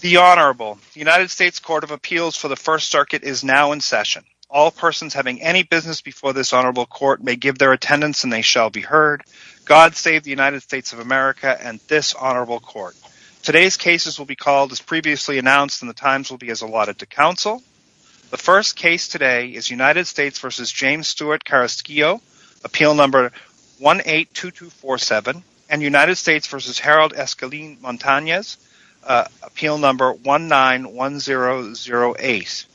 The Honorable. The United States Court of Appeals for the First Circuit is now in session. All persons having any business before this Honorable Court may give their attendance and they shall be heard. God save the United States of America and this Honorable Court. Today's cases will be called as previously announced and the times will be as allotted to counsel. The first case today is United States v. James Stewart-Carrasquillo, appeal number 182247, and United States v. Harold Escalin Montañez, appeal number 191008.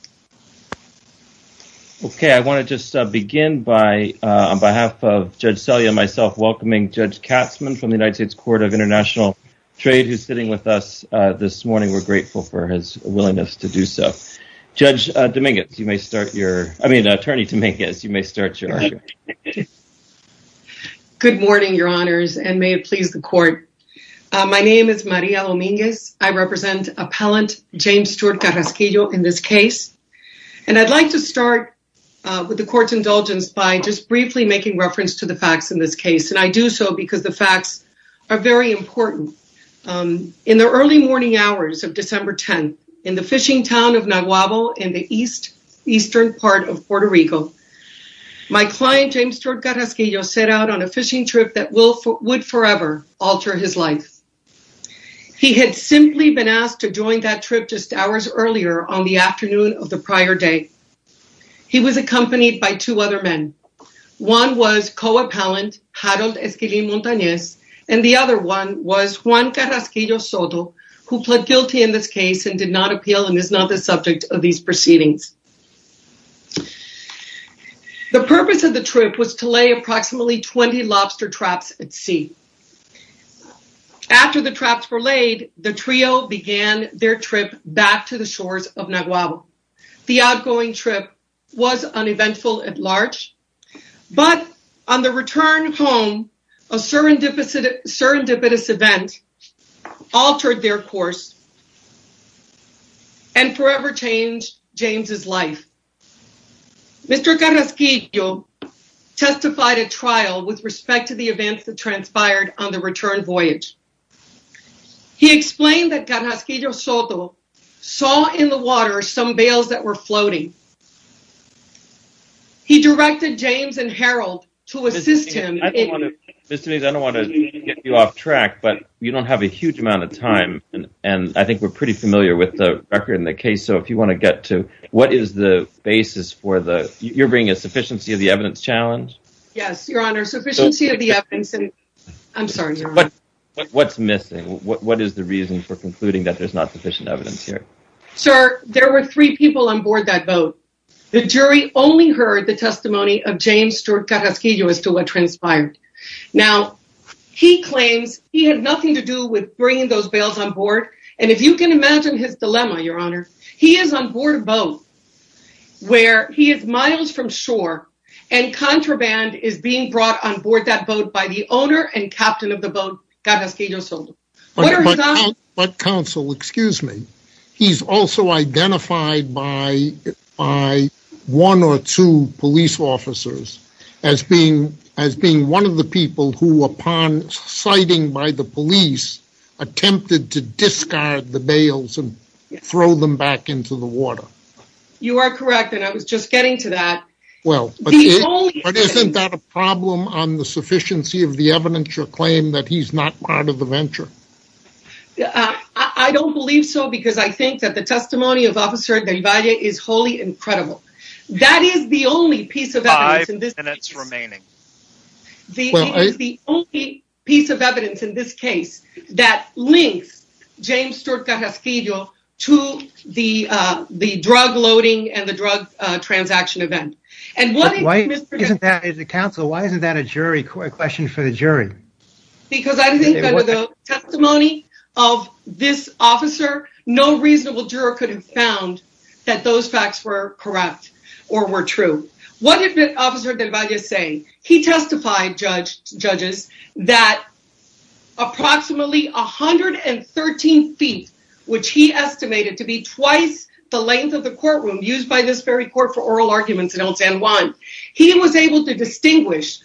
Okay, I want to just begin by on behalf of Judge Selye and myself welcoming Judge Katzmann from the United States Court of International Trade who's sitting with us this morning. We're grateful for his willingness to do so. Judge Dominguez, you may start your, I mean Attorney Dominguez, you may start your. Good morning, Your Honors, and may it please the Court. My name is Maria Dominguez. I represent appellant James Stewart-Carrasquillo in this case, and I'd like to start with the Court's indulgence by just briefly making reference to the facts in this case, and I do so because the facts are very important. In the early morning hours of December 10th in the fishing town of Naguabo in the east eastern part of Puerto Rico, my client James Stewart-Carrasquillo set out on a fishing trip that would forever alter his life. He had simply been asked to join that trip just hours earlier on the afternoon of the prior day. He was accompanied by two other men. One was co-appellant Harold Escalin Montañez, and the other one was Juan Carrasquillo Soto, who pled guilty in this case and did not appeal and is not the subject of these proceedings. The purpose of the trip was to lay approximately 20 lobster traps at sea. After the traps were laid, the trio began their trip back to the shores of Naguabo. The outgoing trip was uneventful at large, but on the return home, a serendipitous event altered their course and forever changed James's life. Mr. Carrasquillo testified at trial with respect to the events that transpired on the return voyage. He explained that Carrasquillo Soto saw in the water some fish. He directed James and Harold to assist him. Mr. Meese, I don't want to get you off track, but you don't have a huge amount of time, and I think we're pretty familiar with the record in the case, so if you want to get to what is the basis for the, you're bringing a sufficiency of the evidence challenge? Yes, your honor, sufficiency of the evidence, and I'm sorry. What's missing? What is the reason for concluding that there's not sufficient evidence here? Sir, there were three people on board that boat. The jury only heard the testimony of James Stewart Carrasquillo as to what transpired. Now, he claims he had nothing to do with bringing those bales on board, and if you can imagine his dilemma, your honor, he is on board a boat where he is miles from shore, and contraband is being brought on board that boat by the owner and captain of the boat, Carrasquillo Soto. But counsel, excuse me, he's also identified by one or two police officers as being one of the people who, upon sighting by the police, attempted to discard the bales and throw them back into the water. You are correct, and I was just getting to that. Well, but isn't that a problem on the sufficiency of the evidence, your claim that he's not part of the venture? I don't believe so, because I think that the testimony of Officer Del Valle is wholly incredible. That is the only piece of evidence in this case that links James Stewart Carrasquillo to the drug loading and the drug transaction event. And why isn't that a jury question for the jury? Because I think that the testimony of this officer, no reasonable juror could have found that those facts were correct or were true. What did Officer Del Valle say? He testified, judges, that approximately 113 feet, which he estimated to be twice the length of the courtroom used by this very court for oral arguments in El San Juan, he was able to distinguish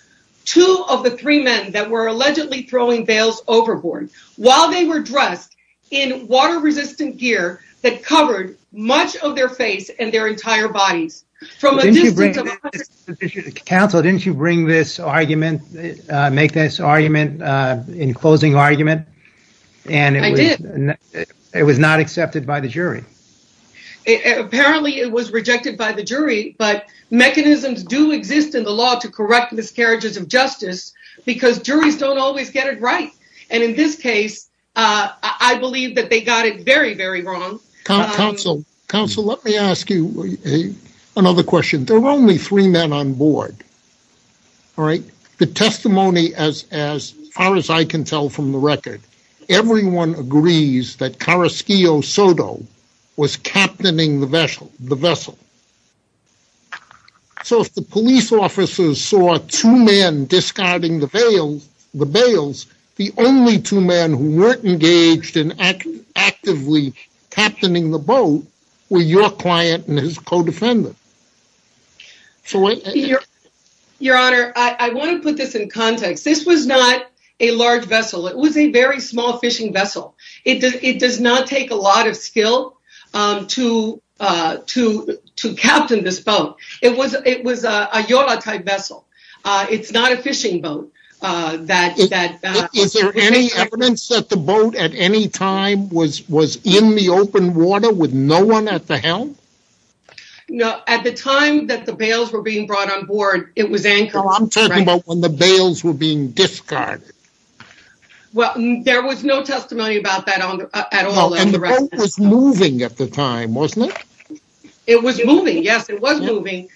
two of the three men that were allegedly throwing bales overboard while they were dressed in water resistant gear that covered much of their face and their entire bodies from a distance of 100 feet. Counsel, didn't you make this argument in closing argument? I did. It was not accepted by the jury. Apparently, it was rejected by the jury, but mechanisms do exist in the law to correct miscarriages of justice because juries don't always get it right. And in this case, I believe that they got it very, very wrong. Counsel, let me ask you another question. There were only three men on board. The testimony, as far as I can tell from the record, everyone agrees that Carrasquillo Soto was captaining the vessel. So if the police officers saw two men discarding the bales, the only two men who weren't engaged in actively captaining the boat were your client and his co-defendant. Your Honor, I want to put this in context. This was not a large vessel. It was a small fishing vessel. It does not take a lot of skill to captain this boat. It was a Yola type vessel. It's not a fishing boat. Is there any evidence that the boat at any time was in the open water with no one at the helm? No. At the time that the bales were being brought on board, it was anchored. I'm talking about when the bales were being discarded. Well, there was no testimony about that at all. And the boat was moving at the time, wasn't it? It was moving. Yes, it was moving.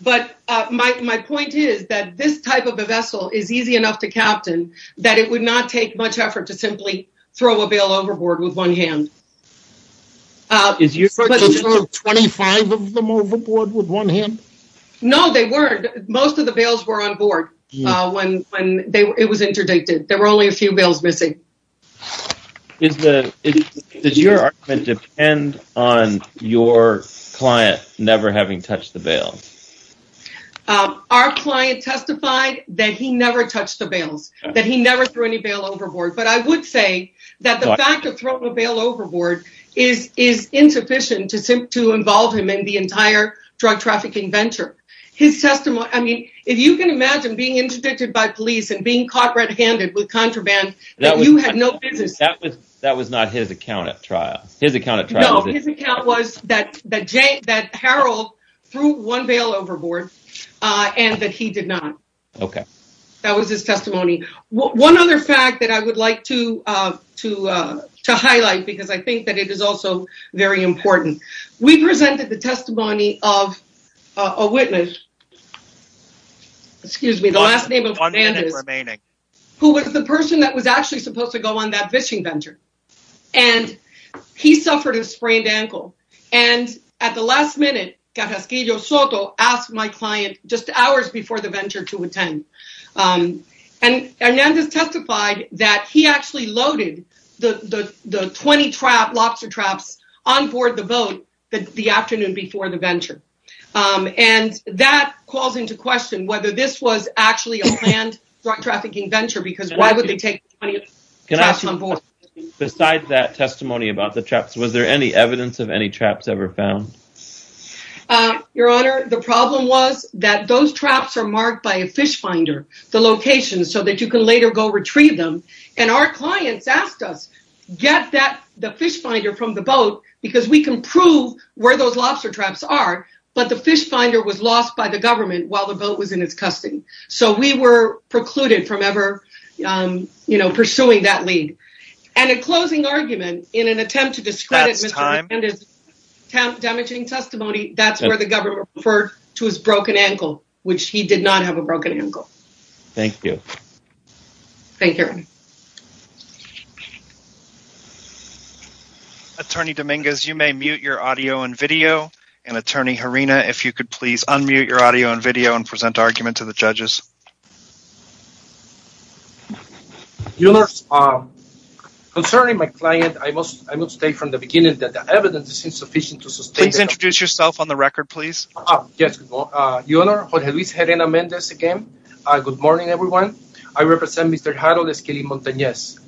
But my point is that this type of a vessel is easy enough to captain that it would not take much effort to simply throw a bale overboard with one hand. Did you throw 25 of them overboard with one hand? No, they weren't. Most of the bales were on board when it was interdicted. There were only a few bales missing. Does your argument depend on your client never having touched the bale? Our client testified that he never touched the bales, that he never threw any bale overboard. But I would say that the fact of throwing a bale overboard is insufficient to involve him in the entire drug trafficking venture. If you can imagine being interdicted by police and being caught red-handed with contraband, you had no business. That was not his account at trial? No, his account was that Harold threw one bale overboard and that he did not. That was his testimony. One other fact that I would like to highlight because I think that it is also very important. We presented the testimony of a witness, excuse me, the last name of Hernandez, who was the person that was actually supposed to go on that fishing venture. He suffered a sprained ankle. At the last minute, Cajasquillo Soto asked my client just hours before the venture to attend. Hernandez testified that he actually loaded the 20 lobster traps on board the boat the afternoon before the venture. That calls into question whether this was actually a planned drug trafficking venture because why would they take 20 traps on board? Besides that testimony about the traps, was there any evidence of any traps ever found? Your Honor, the problem was that those traps are marked by a fish finder, the location, so that you can later go retrieve them. Our clients asked us to get the fish finder from the boat because we can prove where those lobster traps are, but the fish finder was lost by the government while the boat was in its custody. We were precluded from pursuing that lead. In closing argument, in an attempt to discredit Mr. Hernandez's damaging testimony, that is where the government referred to his broken ankle, which he did not have a broken ankle. Thank you. Thank you, Your Honor. Attorney Dominguez, you may mute your audio and video, and Attorney Herrera, if you could please unmute your audio and video and present argument to the judges. Your Honor, concerning my client, I must state from the beginning that the evidence is Herrena-Mendez again. Good morning, everyone. I represent Mr. Harold Esquilin-Montanez.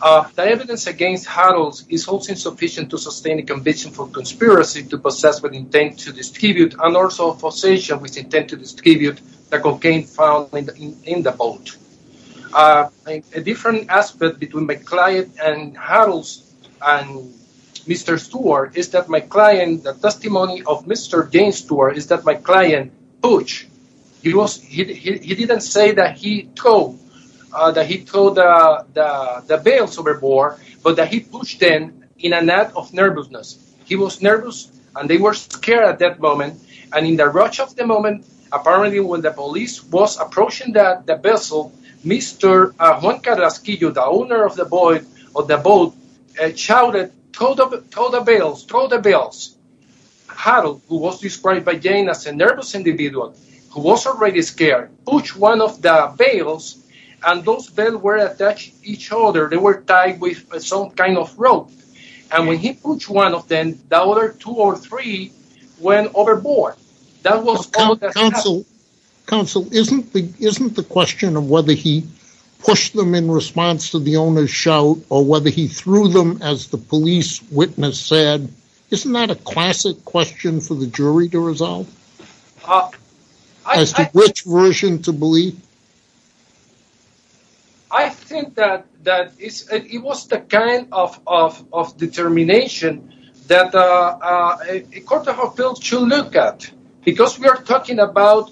The evidence against Harold is also insufficient to sustain a conviction for conspiracy to possess with intent to distribute and also a possession with intent to distribute the cocaine found in the boat. A different aspect between my client and Harold and Mr. Stewart is that my client, the testimony of Mr. James Stewart, is that my client pushed. He didn't say that he threw the bales overboard, but that he pushed them in an act of nervousness. He was nervous, and they were scared at that moment, and in the rush of the moment, apparently when the police was approaching the vessel, Mr. Juan Carrasquillo, the owner of the boat, shouted, throw the bales, throw the bales. Harold, who was described by Jane as a nervous individual, who was already scared, pushed one of the bales, and those bales were attached to each other. They were tied with some kind of rope, and when he pushed one of them, the other two or three went overboard. That was all that happened. Counsel, isn't the question of whether he threw them, as the police witness said, isn't that a classic question for the jury to resolve? I think that it was the kind of determination that a court of appeals should look at, because we are talking about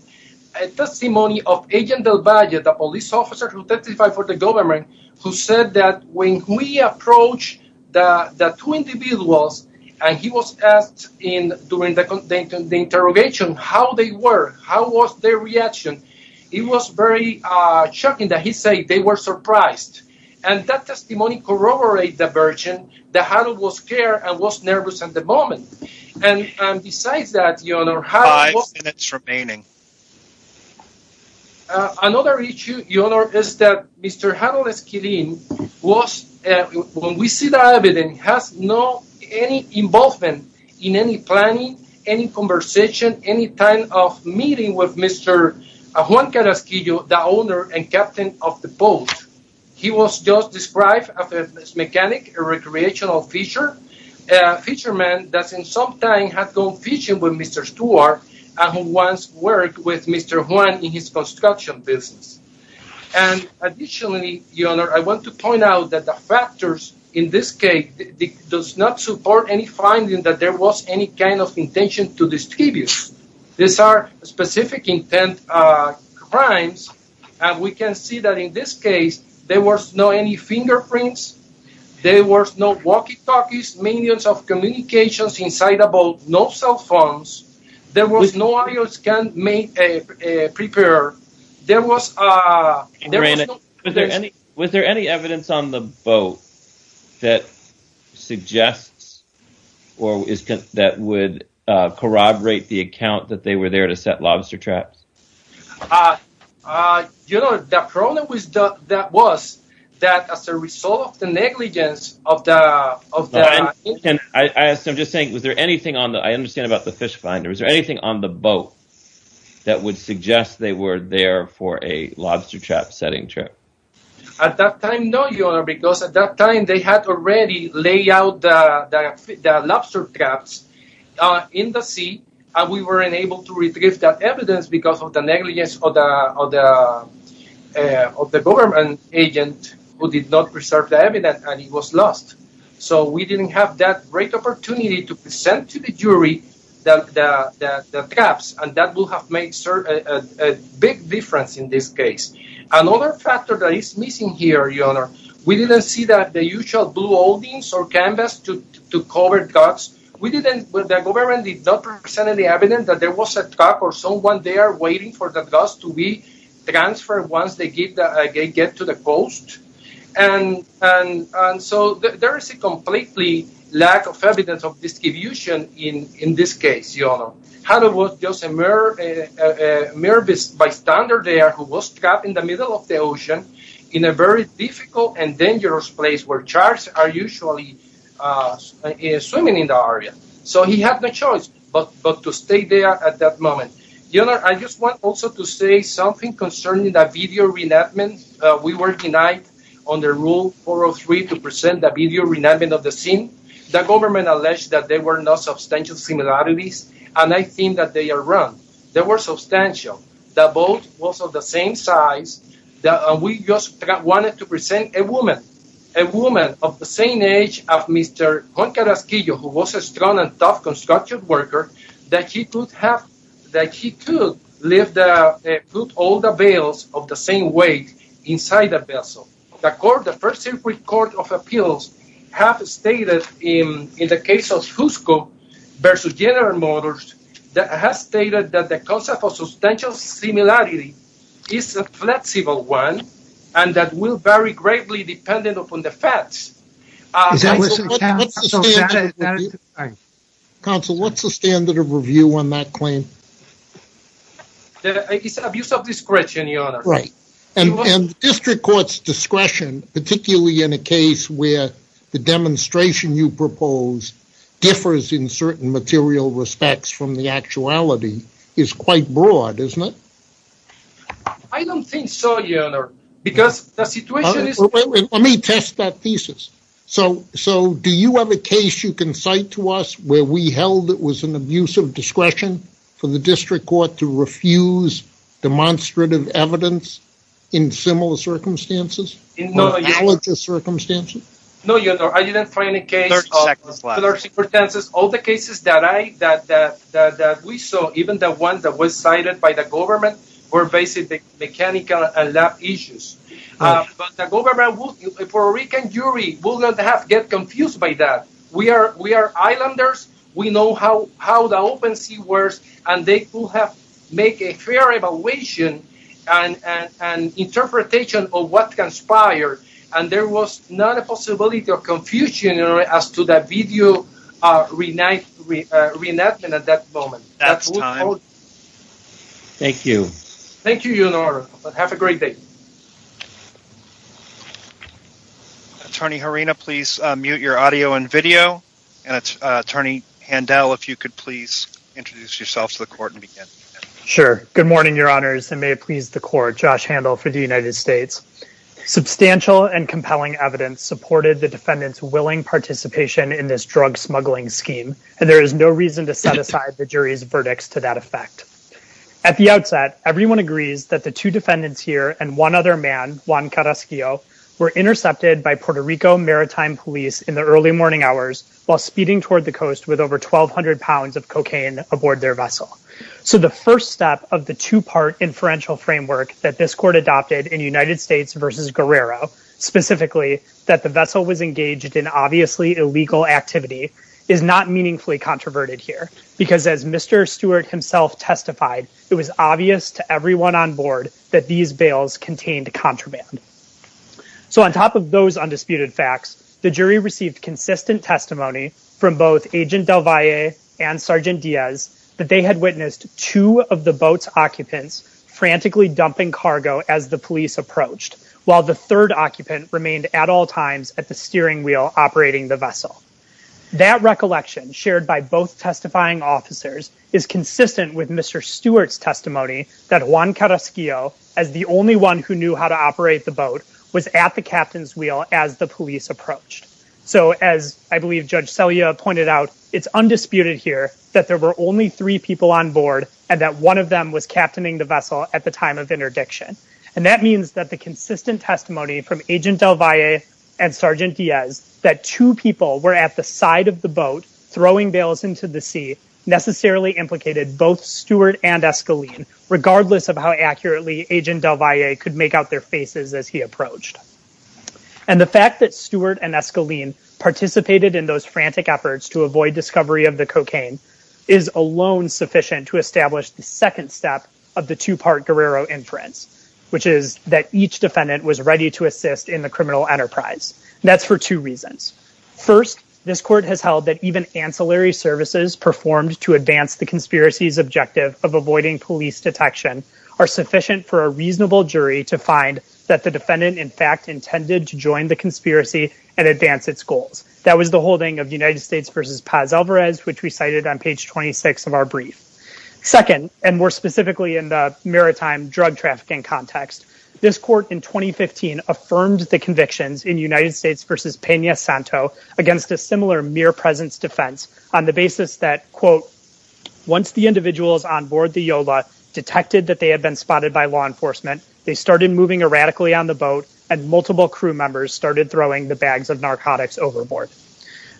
a testimony of Agent Del Valle, the police officer who testified for the government, who said that when we approached the two individuals, and he was asked during the interrogation how they were, how was their reaction, it was very shocking that he said they were surprised, and that testimony corroborated the version that Harold was scared and was nervous at the moment, and besides that, your honor, how... Five minutes remaining. Another issue, your honor, is that Mr. Harold Esquilin was, when we see the evidence, has no any involvement in any planning, any conversation, any kind of meeting with Mr. Juan Carrasquillo, the owner and captain of the boat. He was just described as a mechanic, a recreational fisherman, a fisherman that in some time had gone fishing with Mr. Stewart and who once worked with Mr. Juan in his construction business, and additionally, your honor, I want to point out that the factors in this case does not support any finding that there was any kind of intention to distribute. These are specific intent crimes, and we can see that in this case there was no any fingerprints, there was no walkie-talkies, millions of communications inside the boat, no cell phones, there was no audio scan prepared, there was... Was there any evidence on the boat that suggests or is that would corroborate the account that they were there to set lobster traps? You know, the problem with that was that as a result of the negligence of the... I'm just saying, was there anything on the, I understand about the fish finder, was there anything on the boat that would suggest they were there for a lobster trap setting trip? At that time, no, your honor, because at that time they had already laid out the lobster traps in the sea, and we weren't able to retrieve that agent who did not preserve the evidence, and he was lost. So we didn't have that great opportunity to present to the jury the traps, and that will have made a big difference in this case. Another factor that is missing here, your honor, we didn't see that the usual blue holdings or canvas to cover the traps. We didn't, the government did not present any evidence that there was a trap or someone there waiting for the traps to be transferred once they get to the coast, and so there is a completely lack of evidence of distribution in this case, your honor. Had it was just a mere bystander there who was trapped in the middle of the ocean in a very difficult and dangerous place where sharks are usually swimming in the area. So he had no choice but to stay there at that moment. Your honor, I just want also to say something concerning the video reenactment. We were denied under rule 403 to present the video reenactment of the scene. The government alleged that there were no substantial similarities, and I think that they are wrong. There were substantial, that both was of the same size, that we just wanted to present a woman, a woman of the same age of Mr. Juan Carasquillo, who was a young and tough construction worker, that he could have, that he could lift, put all the bales of the same weight inside the vessel. The court, the first circuit court of appeals, have stated in the case of Jusco versus General Motors, that has stated that the concept of substantial similarity is a flexible one, and that will vary greatly depending upon the facts. Counsel, what's the standard of review on that claim? It's an abuse of discretion, your honor. Right, and district court's discretion, particularly in a case where the demonstration you propose differs in certain material respects from the actuality, is quite broad, isn't it? I don't think so, your honor, because the situation is... Let me test that thesis. So, do you have a case you can cite to us where we held it was an abuse of discretion for the district court to refuse demonstrative evidence in similar circumstances, or analogous circumstances? No, your honor, I didn't find a case of... 30 seconds left. ...all the cases that I, that we saw, even the one that was cited by the government, were basically mechanical and lab issues. But the government, the Puerto Rican jury, will not have to get confused by that. We are islanders, we know how the open sea works, and they will have to make a fair evaluation and interpretation of what conspired, and there was not a possibility of confusion as to the video reenactment at that moment. That's time. Thank you. Thank you, your honor. Have a great day. Attorney Harina, please mute your audio and video. And Attorney Handel, if you could please introduce yourself to the court and begin. Sure. Good morning, your honors, and may it please the court, Josh Handel for the United States. Substantial and compelling evidence supported the defendant's willing participation in this drug smuggling scheme, and there is no reason to set aside the jury's verdicts to that effect. At the outset, everyone agrees that the two defendants here and one other man, Juan Carrasquillo, were intercepted by Puerto Rico maritime police in the early morning hours while speeding toward the coast with over 1,200 pounds of cocaine aboard their vessel. So the first step of the two-part inferential framework that this court adopted in United States versus Guerrero, specifically that the vessel was engaged in Mr. Stewart himself testified, it was obvious to everyone on board that these bails contained contraband. So on top of those undisputed facts, the jury received consistent testimony from both Agent Del Valle and Sergeant Diaz that they had witnessed two of the boat's occupants frantically dumping cargo as the police approached, while the third occupant remained at all times at the steering wheel operating the vessel. That recollection shared by both testifying officers is consistent with Mr. Stewart's testimony that Juan Carrasquillo, as the only one who knew how to operate the boat, was at the captain's wheel as the police approached. So as I believe Judge Selya pointed out, it's undisputed here that there were only three people on board and that one of them was captaining the vessel at the time of interdiction. And that means that the consistent testimony from Agent Del Valle and Sergeant Diaz that two people were at the side of the boat throwing bails into the sea necessarily implicated both Stewart and Escaline, regardless of how accurately Agent Del Valle could make out their faces as he approached. And the fact that Stewart and Escaline participated in those frantic efforts to avoid discovery of the cocaine is alone sufficient to establish the second step of the two-part Guerrero inference, which is that each defendant was ready to assist in the criminal enterprise. That's for two reasons. First, this court has held that even ancillary services performed to advance the conspiracy's objective of avoiding police detection are sufficient for a reasonable jury to find that the defendant, in fact, intended to join the conspiracy and advance its goals. That was the holding of United States v. Paz Alvarez, which we cited on page 26 of our brief. Second, and more specifically in the maritime drug trafficking context, this court in 2015 affirmed the convictions in United States v. Peña Santo against a similar mere presence defense on the basis that, quote, once the individuals on board the Yola detected that they had been spotted by law enforcement, they started moving erratically on the boat and multiple crew members started throwing the bags of narcotics overboard.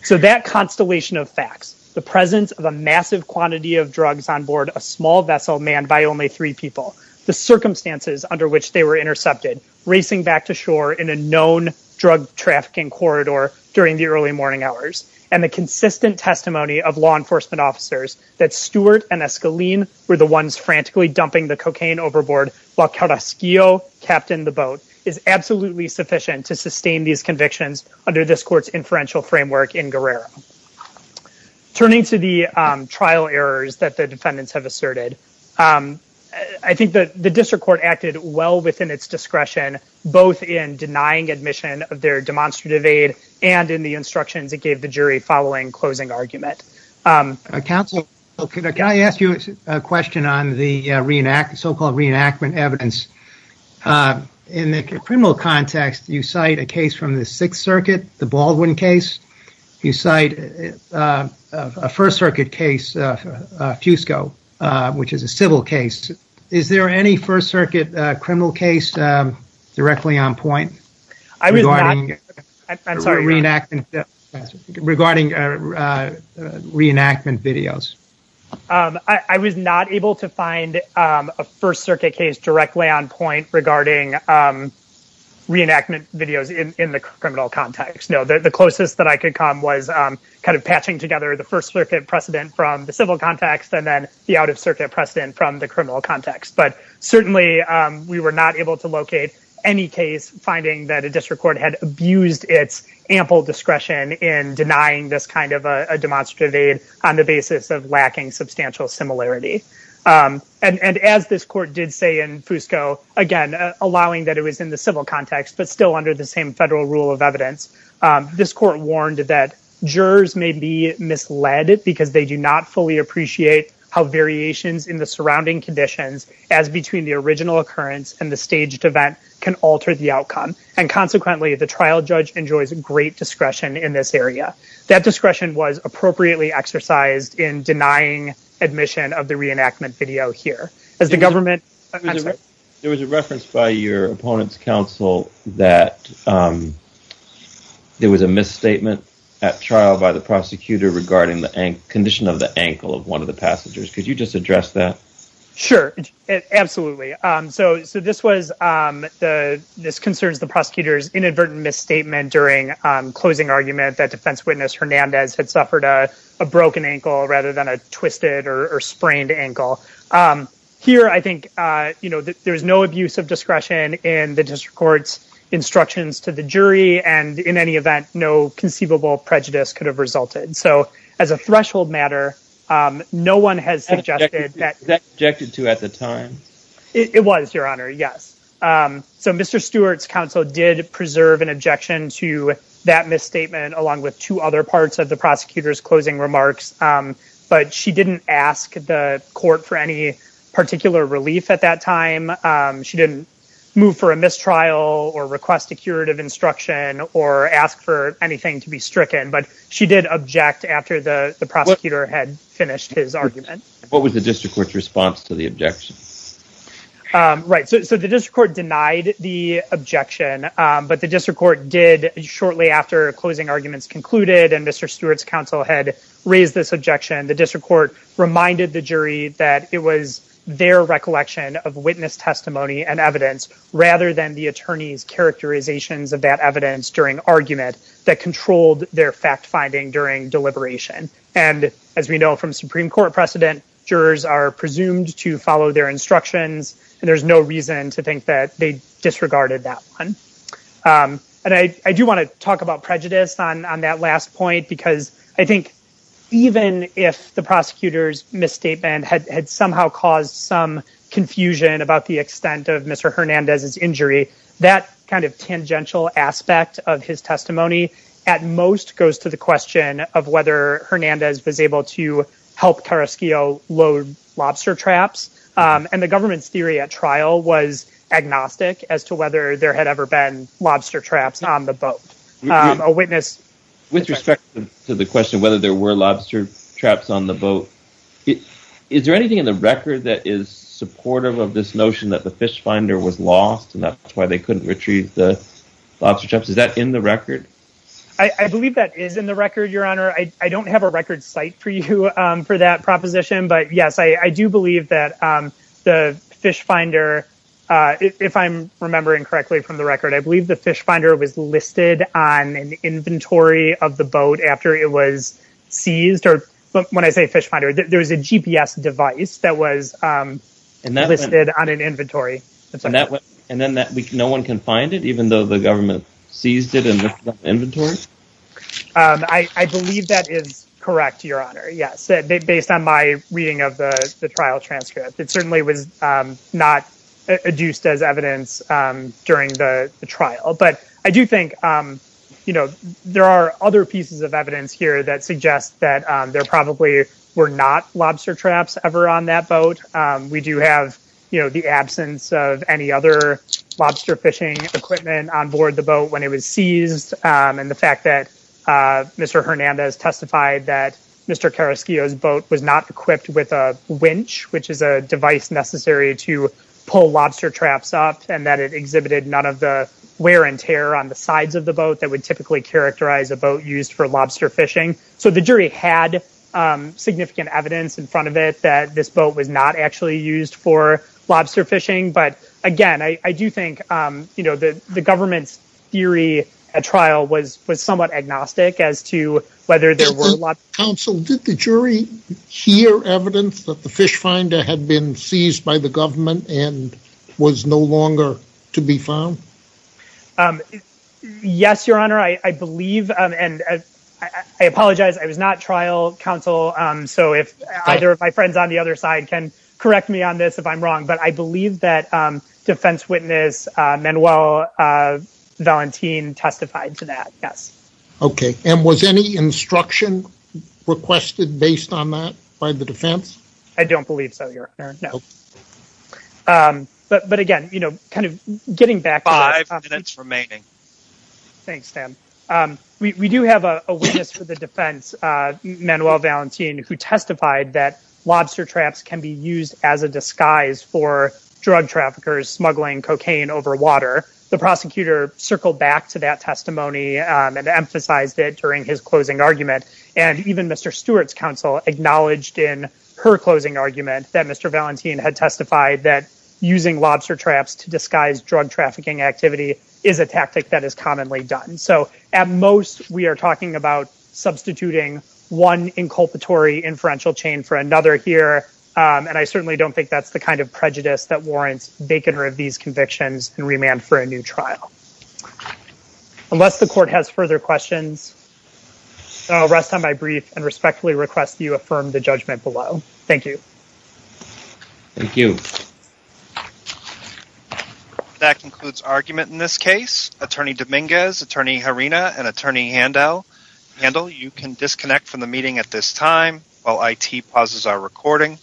So that constellation of facts, the presence of a massive quantity of drugs on board a small vessel manned by only three people, the circumstances under which they were intercepted, racing back to shore in a known drug trafficking corridor during the early morning hours, and the consistent testimony of law enforcement officers that Stewart and Escalin were the ones frantically dumping the cocaine overboard while Carrasquillo captained the boat, is absolutely sufficient to sustain these convictions under this court's inferential framework in Guerrero. Turning to the trial errors that the defendants have asserted, I think that the district court acted well within its discretion both in denying admission of their demonstrative aid and in the instructions it gave the jury following closing argument. Counsel, can I ask you a question on the so-called reenactment evidence? In the criminal context, you cite a case from the Sixth Circuit, the Baldwin case. You cite a First Circuit case, Fusco, which is a civil case. Is there any First Circuit criminal case directly on point regarding reenactment videos? I was not able to find a First Circuit case directly on point regarding reenactment videos in the criminal context. The closest I could come was patching together the First Circuit precedent from the civil context and then the out-of-circuit precedent from the criminal context. Certainly, we were not able to locate any case finding that a district court had abused its ample discretion in denying this kind of a demonstrative aid on the basis of allowing that it was in the civil context but still under the same federal rule of evidence. This court warned that jurors may be misled because they do not fully appreciate how variations in the surrounding conditions as between the original occurrence and the staged event can alter the outcome. Consequently, the trial judge enjoys great discretion in this area. That discretion was appropriately exercised in denying admission of the reenactment video here. There was a reference by your opponent's counsel that there was a misstatement at trial by the prosecutor regarding the condition of the ankle of one of the passengers. Could you just address that? Sure, absolutely. This concerns the prosecutor's inadvertent misstatement during closing argument that defense witness Hernandez had suffered a broken ankle rather than a twisted or sprained ankle. Here, I think there's no abuse of discretion in the district court's instructions to the jury. In any event, no conceivable prejudice could have resulted. As a threshold matter, no one has suggested that- Was that objected to at the time? It was, your honor, yes. Mr. Stewart's counsel did preserve an objection to that misstatement along with two other parts of the prosecutor's closing remarks, but she didn't ask the court for any particular relief at that time. She didn't move for a mistrial or request a curative instruction or ask for anything to be stricken, but she did object after the prosecutor had finished his argument. What was the district court's response to the objection? Right, so the district court denied the objection, but the district court did shortly after closing arguments concluded and Mr. Stewart's counsel had raised this objection, the district court reminded the jury that it was their recollection of witness testimony and evidence rather than the attorney's characterizations of that evidence during argument that controlled their fact-finding during deliberation. As we know from Supreme Court precedent, jurors are presumed to follow their instructions and there's no reason to think that they disregarded that one. And I do want to talk about prejudice on that last point because I think even if the prosecutor's misstatement had somehow caused some confusion about the extent of Mr. Hernandez's injury, that kind of tangential aspect of his testimony at most goes to the question of whether Hernandez was able to help Carrasquillo load lobster traps and the government's trial was agnostic as to whether there had ever been lobster traps on the boat. A witness... With respect to the question whether there were lobster traps on the boat, is there anything in the record that is supportive of this notion that the fish finder was lost and that's why they couldn't retrieve the lobster traps? Is that in the record? I believe that is in the record, your honor. I don't have a record site for you for that proposition, but yes, I do believe that the fish finder, if I'm remembering correctly from the record, I believe the fish finder was listed on an inventory of the boat after it was seized. Or when I say fish finder, there's a GPS device that was listed on an inventory. And then no one can find it even though the government seized it in the inventory? I believe that is correct, your honor. Yes, based on my reading of the trial transcript, it certainly was not adduced as evidence during the trial. But I do think there are other pieces of evidence here that suggest that there probably were not lobster traps ever on that boat. We do have the absence of any other lobster fishing equipment on board the boat when it was seized. And the fact that Mr. Hernandez testified that Mr. Carrasquillo's boat was not equipped with a winch, which is a device necessary to pull lobster traps up, and that it exhibited none of the wear and tear on the sides of the boat that would typically characterize a boat used for lobster fishing. So the jury had significant evidence in front of it that this boat was not actually used for lobster fishing. But again, I do think the government's theory at trial was somewhat agnostic as to whether there were lobster traps. Counsel, did the jury hear evidence that the fish finder had been seized by the government and was no longer to be found? Yes, your honor, I believe. And I apologize. I was not trial counsel. So if either of my friends on the other side can correct me on this if I'm wrong. But I believe that defense witness Manuel Valentin testified to that. Yes. Okay. And was any instruction requested based on that by the defense? I don't believe so, your honor. No. But again, you know, kind of getting back... Five minutes remaining. Thanks, Sam. We do have a witness for the defense, Manuel Valentin, who testified that lobster traps can be used as a disguise for drug traffickers smuggling cocaine over water. The prosecutor circled back to that testimony and emphasized it during his closing argument. And even Mr. Stewart's counsel acknowledged in her closing argument that Mr. Valentin had testified that using lobster traps to disguise drug trafficking activity is a tactic that is commonly done. So at most, we are talking about substituting one inculpatory inferential chain for another here. And I certainly don't think that's the kind of prejudice that warrants baconer of these convictions and remand for a new trial. Unless the court has further questions, I'll rest on my brief and respectfully request that you affirm the judgment below. Thank you. Thank you. That concludes argument in this case. Attorney Dominguez, Attorney Harina, and Attorney Handel, you can disconnect from the meeting at this time while IT pauses our recording.